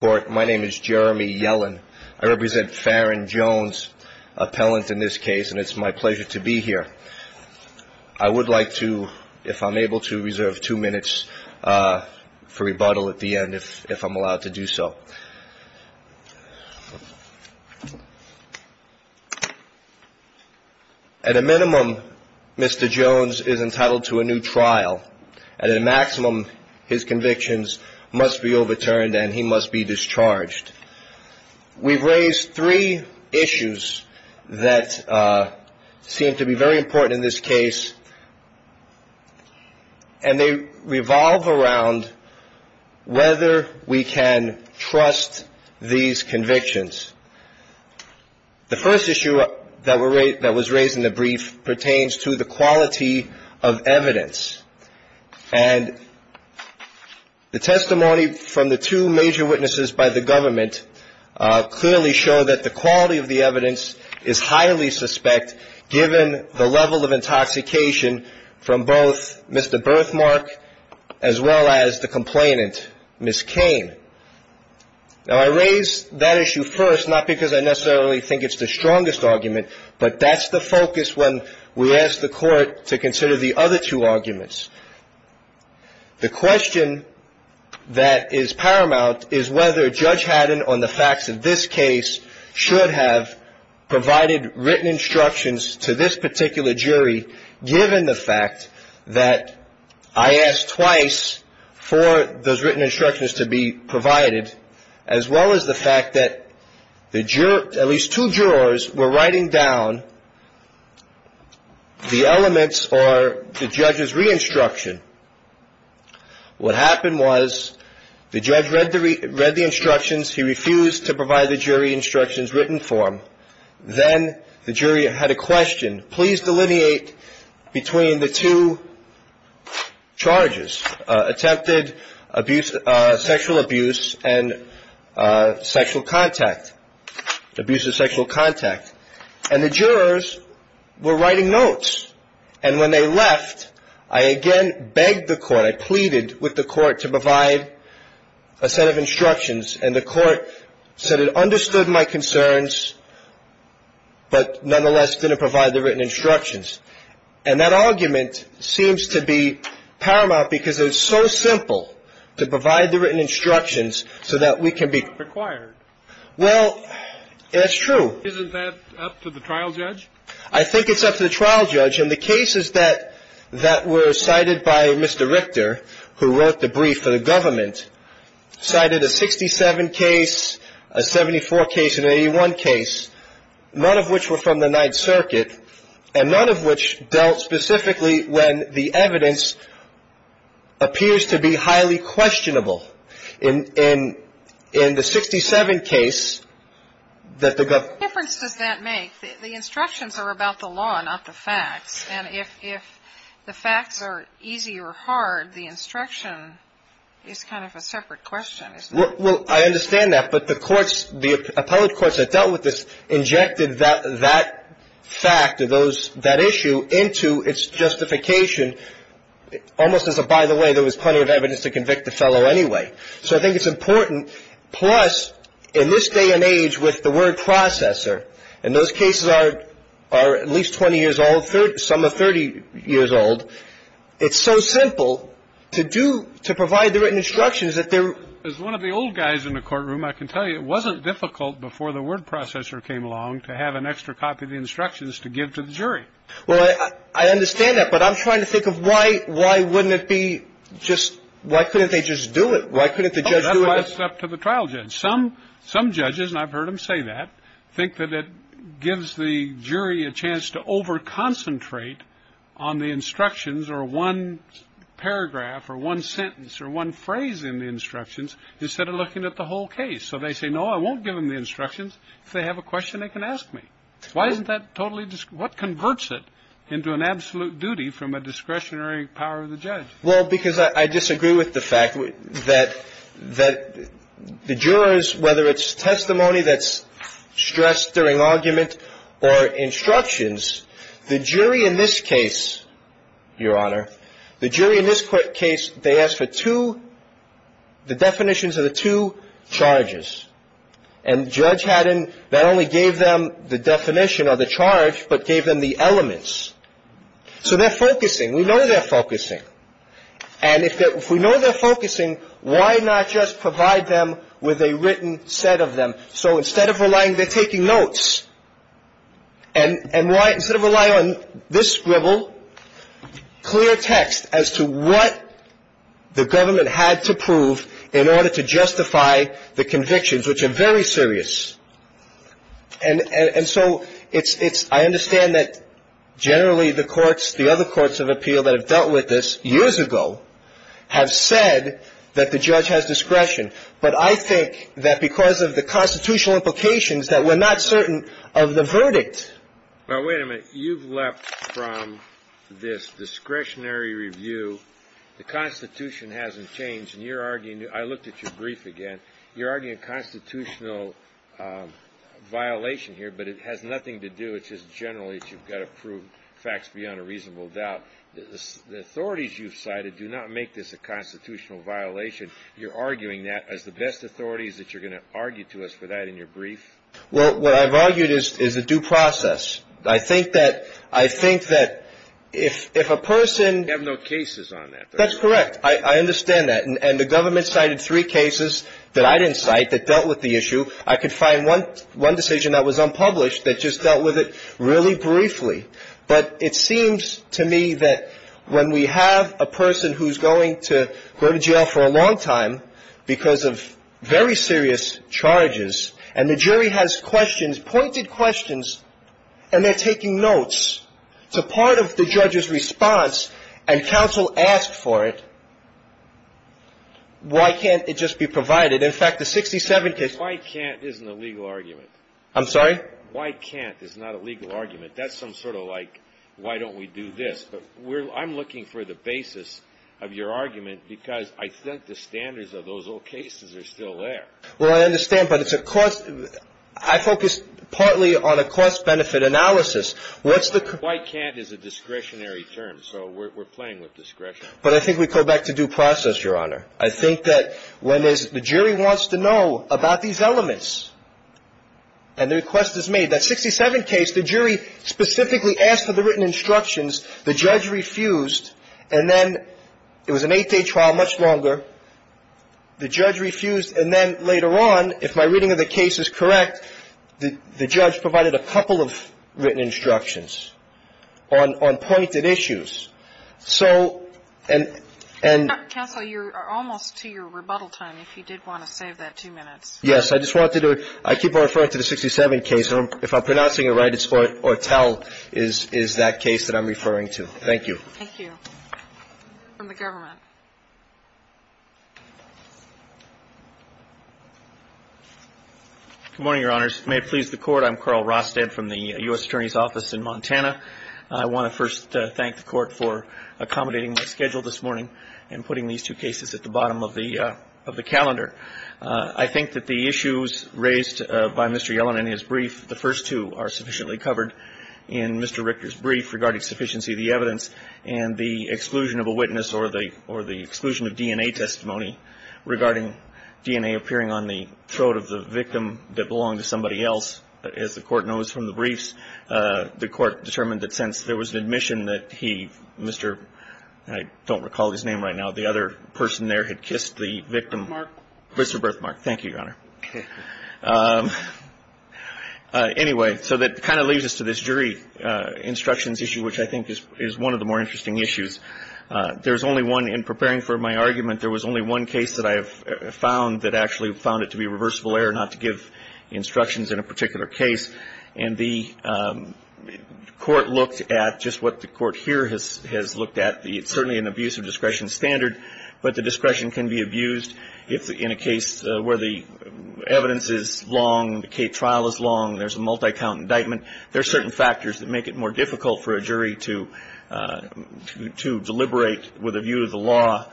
Court. My name is Jeremy Yellen. I represent Farron Jones appellant in this case, and it's my pleasure to be here. I would like to, if I'm able to, reserve two minutes for rebuttal at the end, if I'm allowed to do so. At a minimum, Mr. Jones is entitled to a new trial, and at a maximum, his convictions must be overturned and he must be discharged. We've raised three issues that seem to be very important in this case, and they revolve around whether we can trust these convictions. The first issue that was raised in the brief pertains to the quality of evidence, and the testimony from the two major witnesses by the government clearly show that the quality of the evidence is highly suspect, given the level of intoxication from both Mr. Birthmark as well as the complainant, Ms. Kane. Now, I raise that issue first, not because I necessarily think it's the strongest argument, but that's the focus when we ask the Court to consider the other two arguments. The question that is paramount is whether Judge Haddon, on the facts of this case, should have provided written instructions to this particular jury, given the fact that I asked twice for those written instructions to be jurors were writing down the elements or the judge's re-instruction. What happened was, the judge read the instructions, he refused to provide the jury instructions written for him, then the jury had a question, please delineate between the two charges, attempted sexual abuse and sexual contact, abuse of sexual contact, and the jurors were writing notes, and when they left, I again begged the Court, I pleaded with the Court to provide a set of instructions, and the Court said it understood my concerns, but nonetheless didn't provide the written instructions. And that argument seems to be paramount because it is so simple to provide the written instructions so that we can be required. Well, that's true. Isn't that up to the trial judge? I think it's up to the trial judge. And the cases that were cited by Mr. Richter, who wrote the brief for the government, cited a 67 case, a 74 case, and an 81 case, none of which were from the Ninth Circuit, and none of which dealt specifically when the In the 67 case that the government What difference does that make? The instructions are about the law, not the facts. And if the facts are easy or hard, the instruction is kind of a separate question, isn't it? Well, I understand that, but the courts, the appellate courts that dealt with this injected that fact or that issue into its justification almost as a by the way, there was plenty of evidence to convict the fellow anyway. So I think it's important. Plus, in this day and age with the word processor and those cases are are at least 20 years old, some are 30 years old. It's so simple to do to provide the written instructions that there is one of the old guys in the courtroom. I can tell you it wasn't difficult before the word processor came along to have an extra copy of the instructions to give to the jury. Well, I understand that, but I'm trying to think of why. Why wouldn't it be just why couldn't they just do it? Why couldn't the judge do it? It's up to the trial judge. Some some judges and I've heard him say that. Think that it gives the jury a chance to over concentrate on the instructions or one paragraph or one sentence or one phrase in the instructions instead of looking at the whole case. So they say, no, I won't give them the instructions. If they have a question, they can ask me. Why isn't that totally just what converts it into an absolute duty from a discretionary power of the judge? Well, because I disagree with the fact that that the jurors, whether it's testimony that's stressed during argument or instructions, the jury in this case, Your Honor, the jury in this case, they asked for two. The definitions of the two charges and judge hadn't that only gave them the definition of the charge, but gave them the elements. So they're focusing. We know they're focusing. And if we know they're focusing, why not just provide them with a written set of them? So instead of relying, they're taking notes. And why? Instead of rely on this scribble, clear text as to what the government had to prove in order to justify the convictions, which are very serious. And so it's it's I understand that generally the courts, the other courts of appeal that have dealt with this years ago have said that the judge has discretion. But I think that because of the constitutional implications that we're not certain of the verdict. Now, wait a minute. You've left from this discretionary review. The Constitution hasn't changed. And you're arguing. I looked at your brief again. You're arguing a constitutional violation here, but it has nothing to do. It's just generally you've got to prove facts beyond a reasonable doubt. The authorities you've cited do not make this a constitutional violation. You're arguing that as the best authorities that you're going to argue to us for that in your brief. Well, what I've argued is is a due process. I think that I think that if if a person have no cases on that, that's correct. I understand that. And the government cited three cases that I didn't cite that dealt with the issue. I could find one one decision that was unpublished that just dealt with it really briefly. But it seems to me that when we have a person who's going to go to jail for a long time because of very serious charges and the jury has questions, pointed questions, and they're taking notes to part of the judge's response and counsel asked for it, why can't it just be provided? In fact, the 67 case, why can't isn't a legal argument? I'm sorry. Why can't is not a legal argument. That's some sort of like, why don't we do this? But I'm looking for the basis of your argument, because I think the standards of those old cases are still there. Well, I understand. But it's a cost. I focus partly on a cost benefit analysis. What's the why can't is a discretionary term. But I think we go back to due process, Your Honor. I think that when there's the jury wants to know about these elements and the request is made, that 67 case, the jury specifically asked for the written instructions, the judge refused, and then it was an eight-day trial, much longer. The judge refused, and then later on, if my reading of the case is correct, the judge provided a couple of written instructions on pointed issues. So, and, and — Counsel, you're almost to your rebuttal time, if you did want to save that two minutes. Yes. I just wanted to — I keep on referring to the 67 case. If I'm pronouncing it right, it's Ortell is that case that I'm referring to. Thank you. Thank you. From the government. Good morning, Your Honors. May it please the Court. I'm Carl Rosted from the U.S. Attorney's Office in Montana. I want to first thank the Court for accommodating my schedule this morning and putting these two cases at the bottom of the calendar. I think that the issues raised by Mr. Yellen in his brief, the first two are sufficiently covered in Mr. Richter's brief regarding sufficiency of the evidence and the exclusion of a witness or the exclusion of DNA testimony regarding DNA appearing on the throat of the victim that belonged to somebody else. As the Court knows from the briefs, the Court determined that since there was an admission that he, Mr. — I don't recall his name right now. The other person there had kissed the victim. Mark. Mr. Berthmark. Thank you, Your Honor. Anyway, so that kind of leads us to this jury instructions issue, which I think is one of the more interesting issues. There's only one — in preparing for my argument, there was only one case that I have found that actually found it to be a reversible error not to give instructions in a particular case. And the Court looked at just what the Court here has looked at. It's certainly an abuse of discretion standard, but the discretion can be abused in a case where the evidence is long, the trial is long, there's a multi-count indictment. There are certain factors that make it more difficult for a jury to deliberate with a view of the law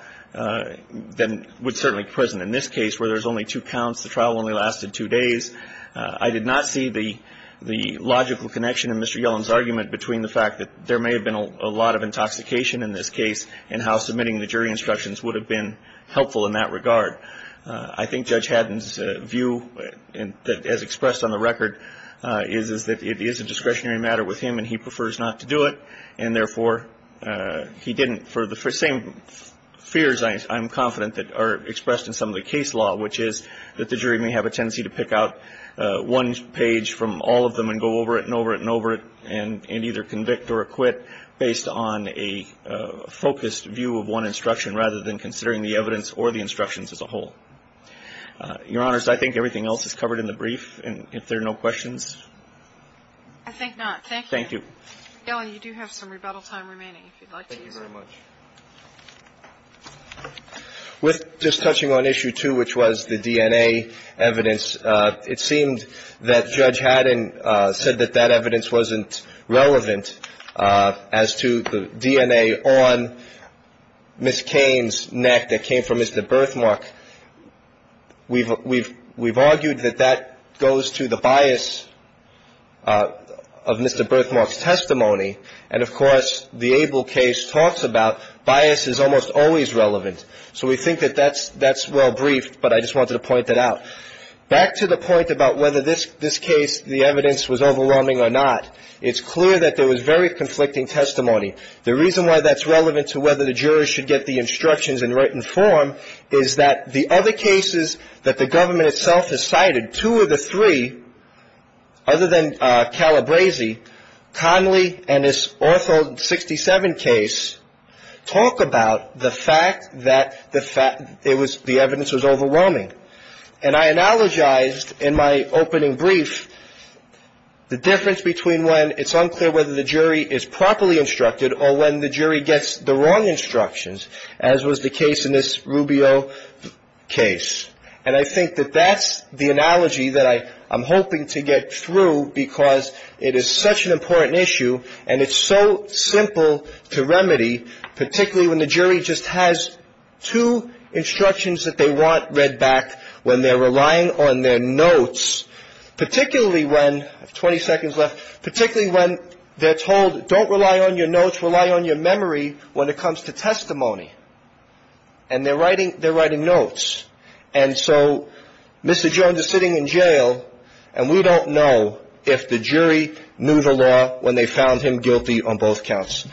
than would certainly present in this case where there's only two counts, the trial only lasted two days. I did not see the logical connection in Mr. Yellen's argument between the fact that there may have been a lot of intoxication in this case and how submitting the jury instructions would have been helpful in that regard. I think Judge Haddon's view, as expressed on the record, is that it is a discretionary matter with him and he prefers not to do it. And therefore, he didn't — for the same fears, I'm confident, that are expressed in some of the case law, which is that the jury may have a tendency to pick out one page from all of them and go over it and over it and over it and either convict or acquit based on a focused view of one instruction rather than considering the evidence or the instructions as a whole. Your Honors, I think everything else is covered in the brief, and if there are no questions. I think not. Thank you. Thank you. Yellen, you do have some rebuttal time remaining, if you'd like to use it. Thank you very much. With just touching on issue two, which was the DNA evidence, it seemed that Judge Haddon said that that evidence wasn't relevant as to the DNA on Ms. Kane's neck that came from Mr. Berthmark. We've argued that that goes to the bias of Mr. Berthmark's testimony, and of course, the Abel case talks about bias is almost always relevant. So we think that that's well briefed, but I just wanted to point that out. Back to the point about whether this case, the evidence, was overwhelming or not, it's clear that there was very conflicting testimony. The reason why that's relevant to whether the jurors should get the instructions in written form is that the other cases that the government itself has cited, two of the three, other than Calabresi, Conley, and this Ortho 67 case, talk about the fact that the evidence was overwhelming. And I analogized in my opening brief the difference between when it's unclear whether the jury is properly instructed or when the jury gets the wrong instructions, as was the case in this Rubio case. And I think that that's the analogy that I'm hoping to get through because it is such an important issue, and it's so simple to remedy, particularly when the jury just has two instructions that they want read back when they're relying on their notes, particularly when, I have 20 seconds left, particularly when they're told don't rely on your notes, rely on your memory when it comes to testimony. And they're writing notes. And so Mr. Jones is sitting in jail, and we don't know if the jury knew the law when they found him guilty on both counts.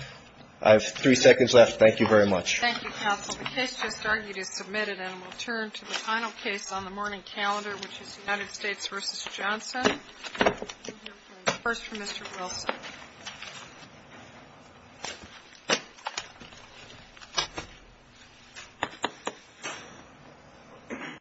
I have three seconds left. Thank you very much. Thank you, counsel. The case just argued is submitted, and we'll turn to the final case on the morning calendar, which is United States v. Johnson. We'll hear first from Mr. Wilson.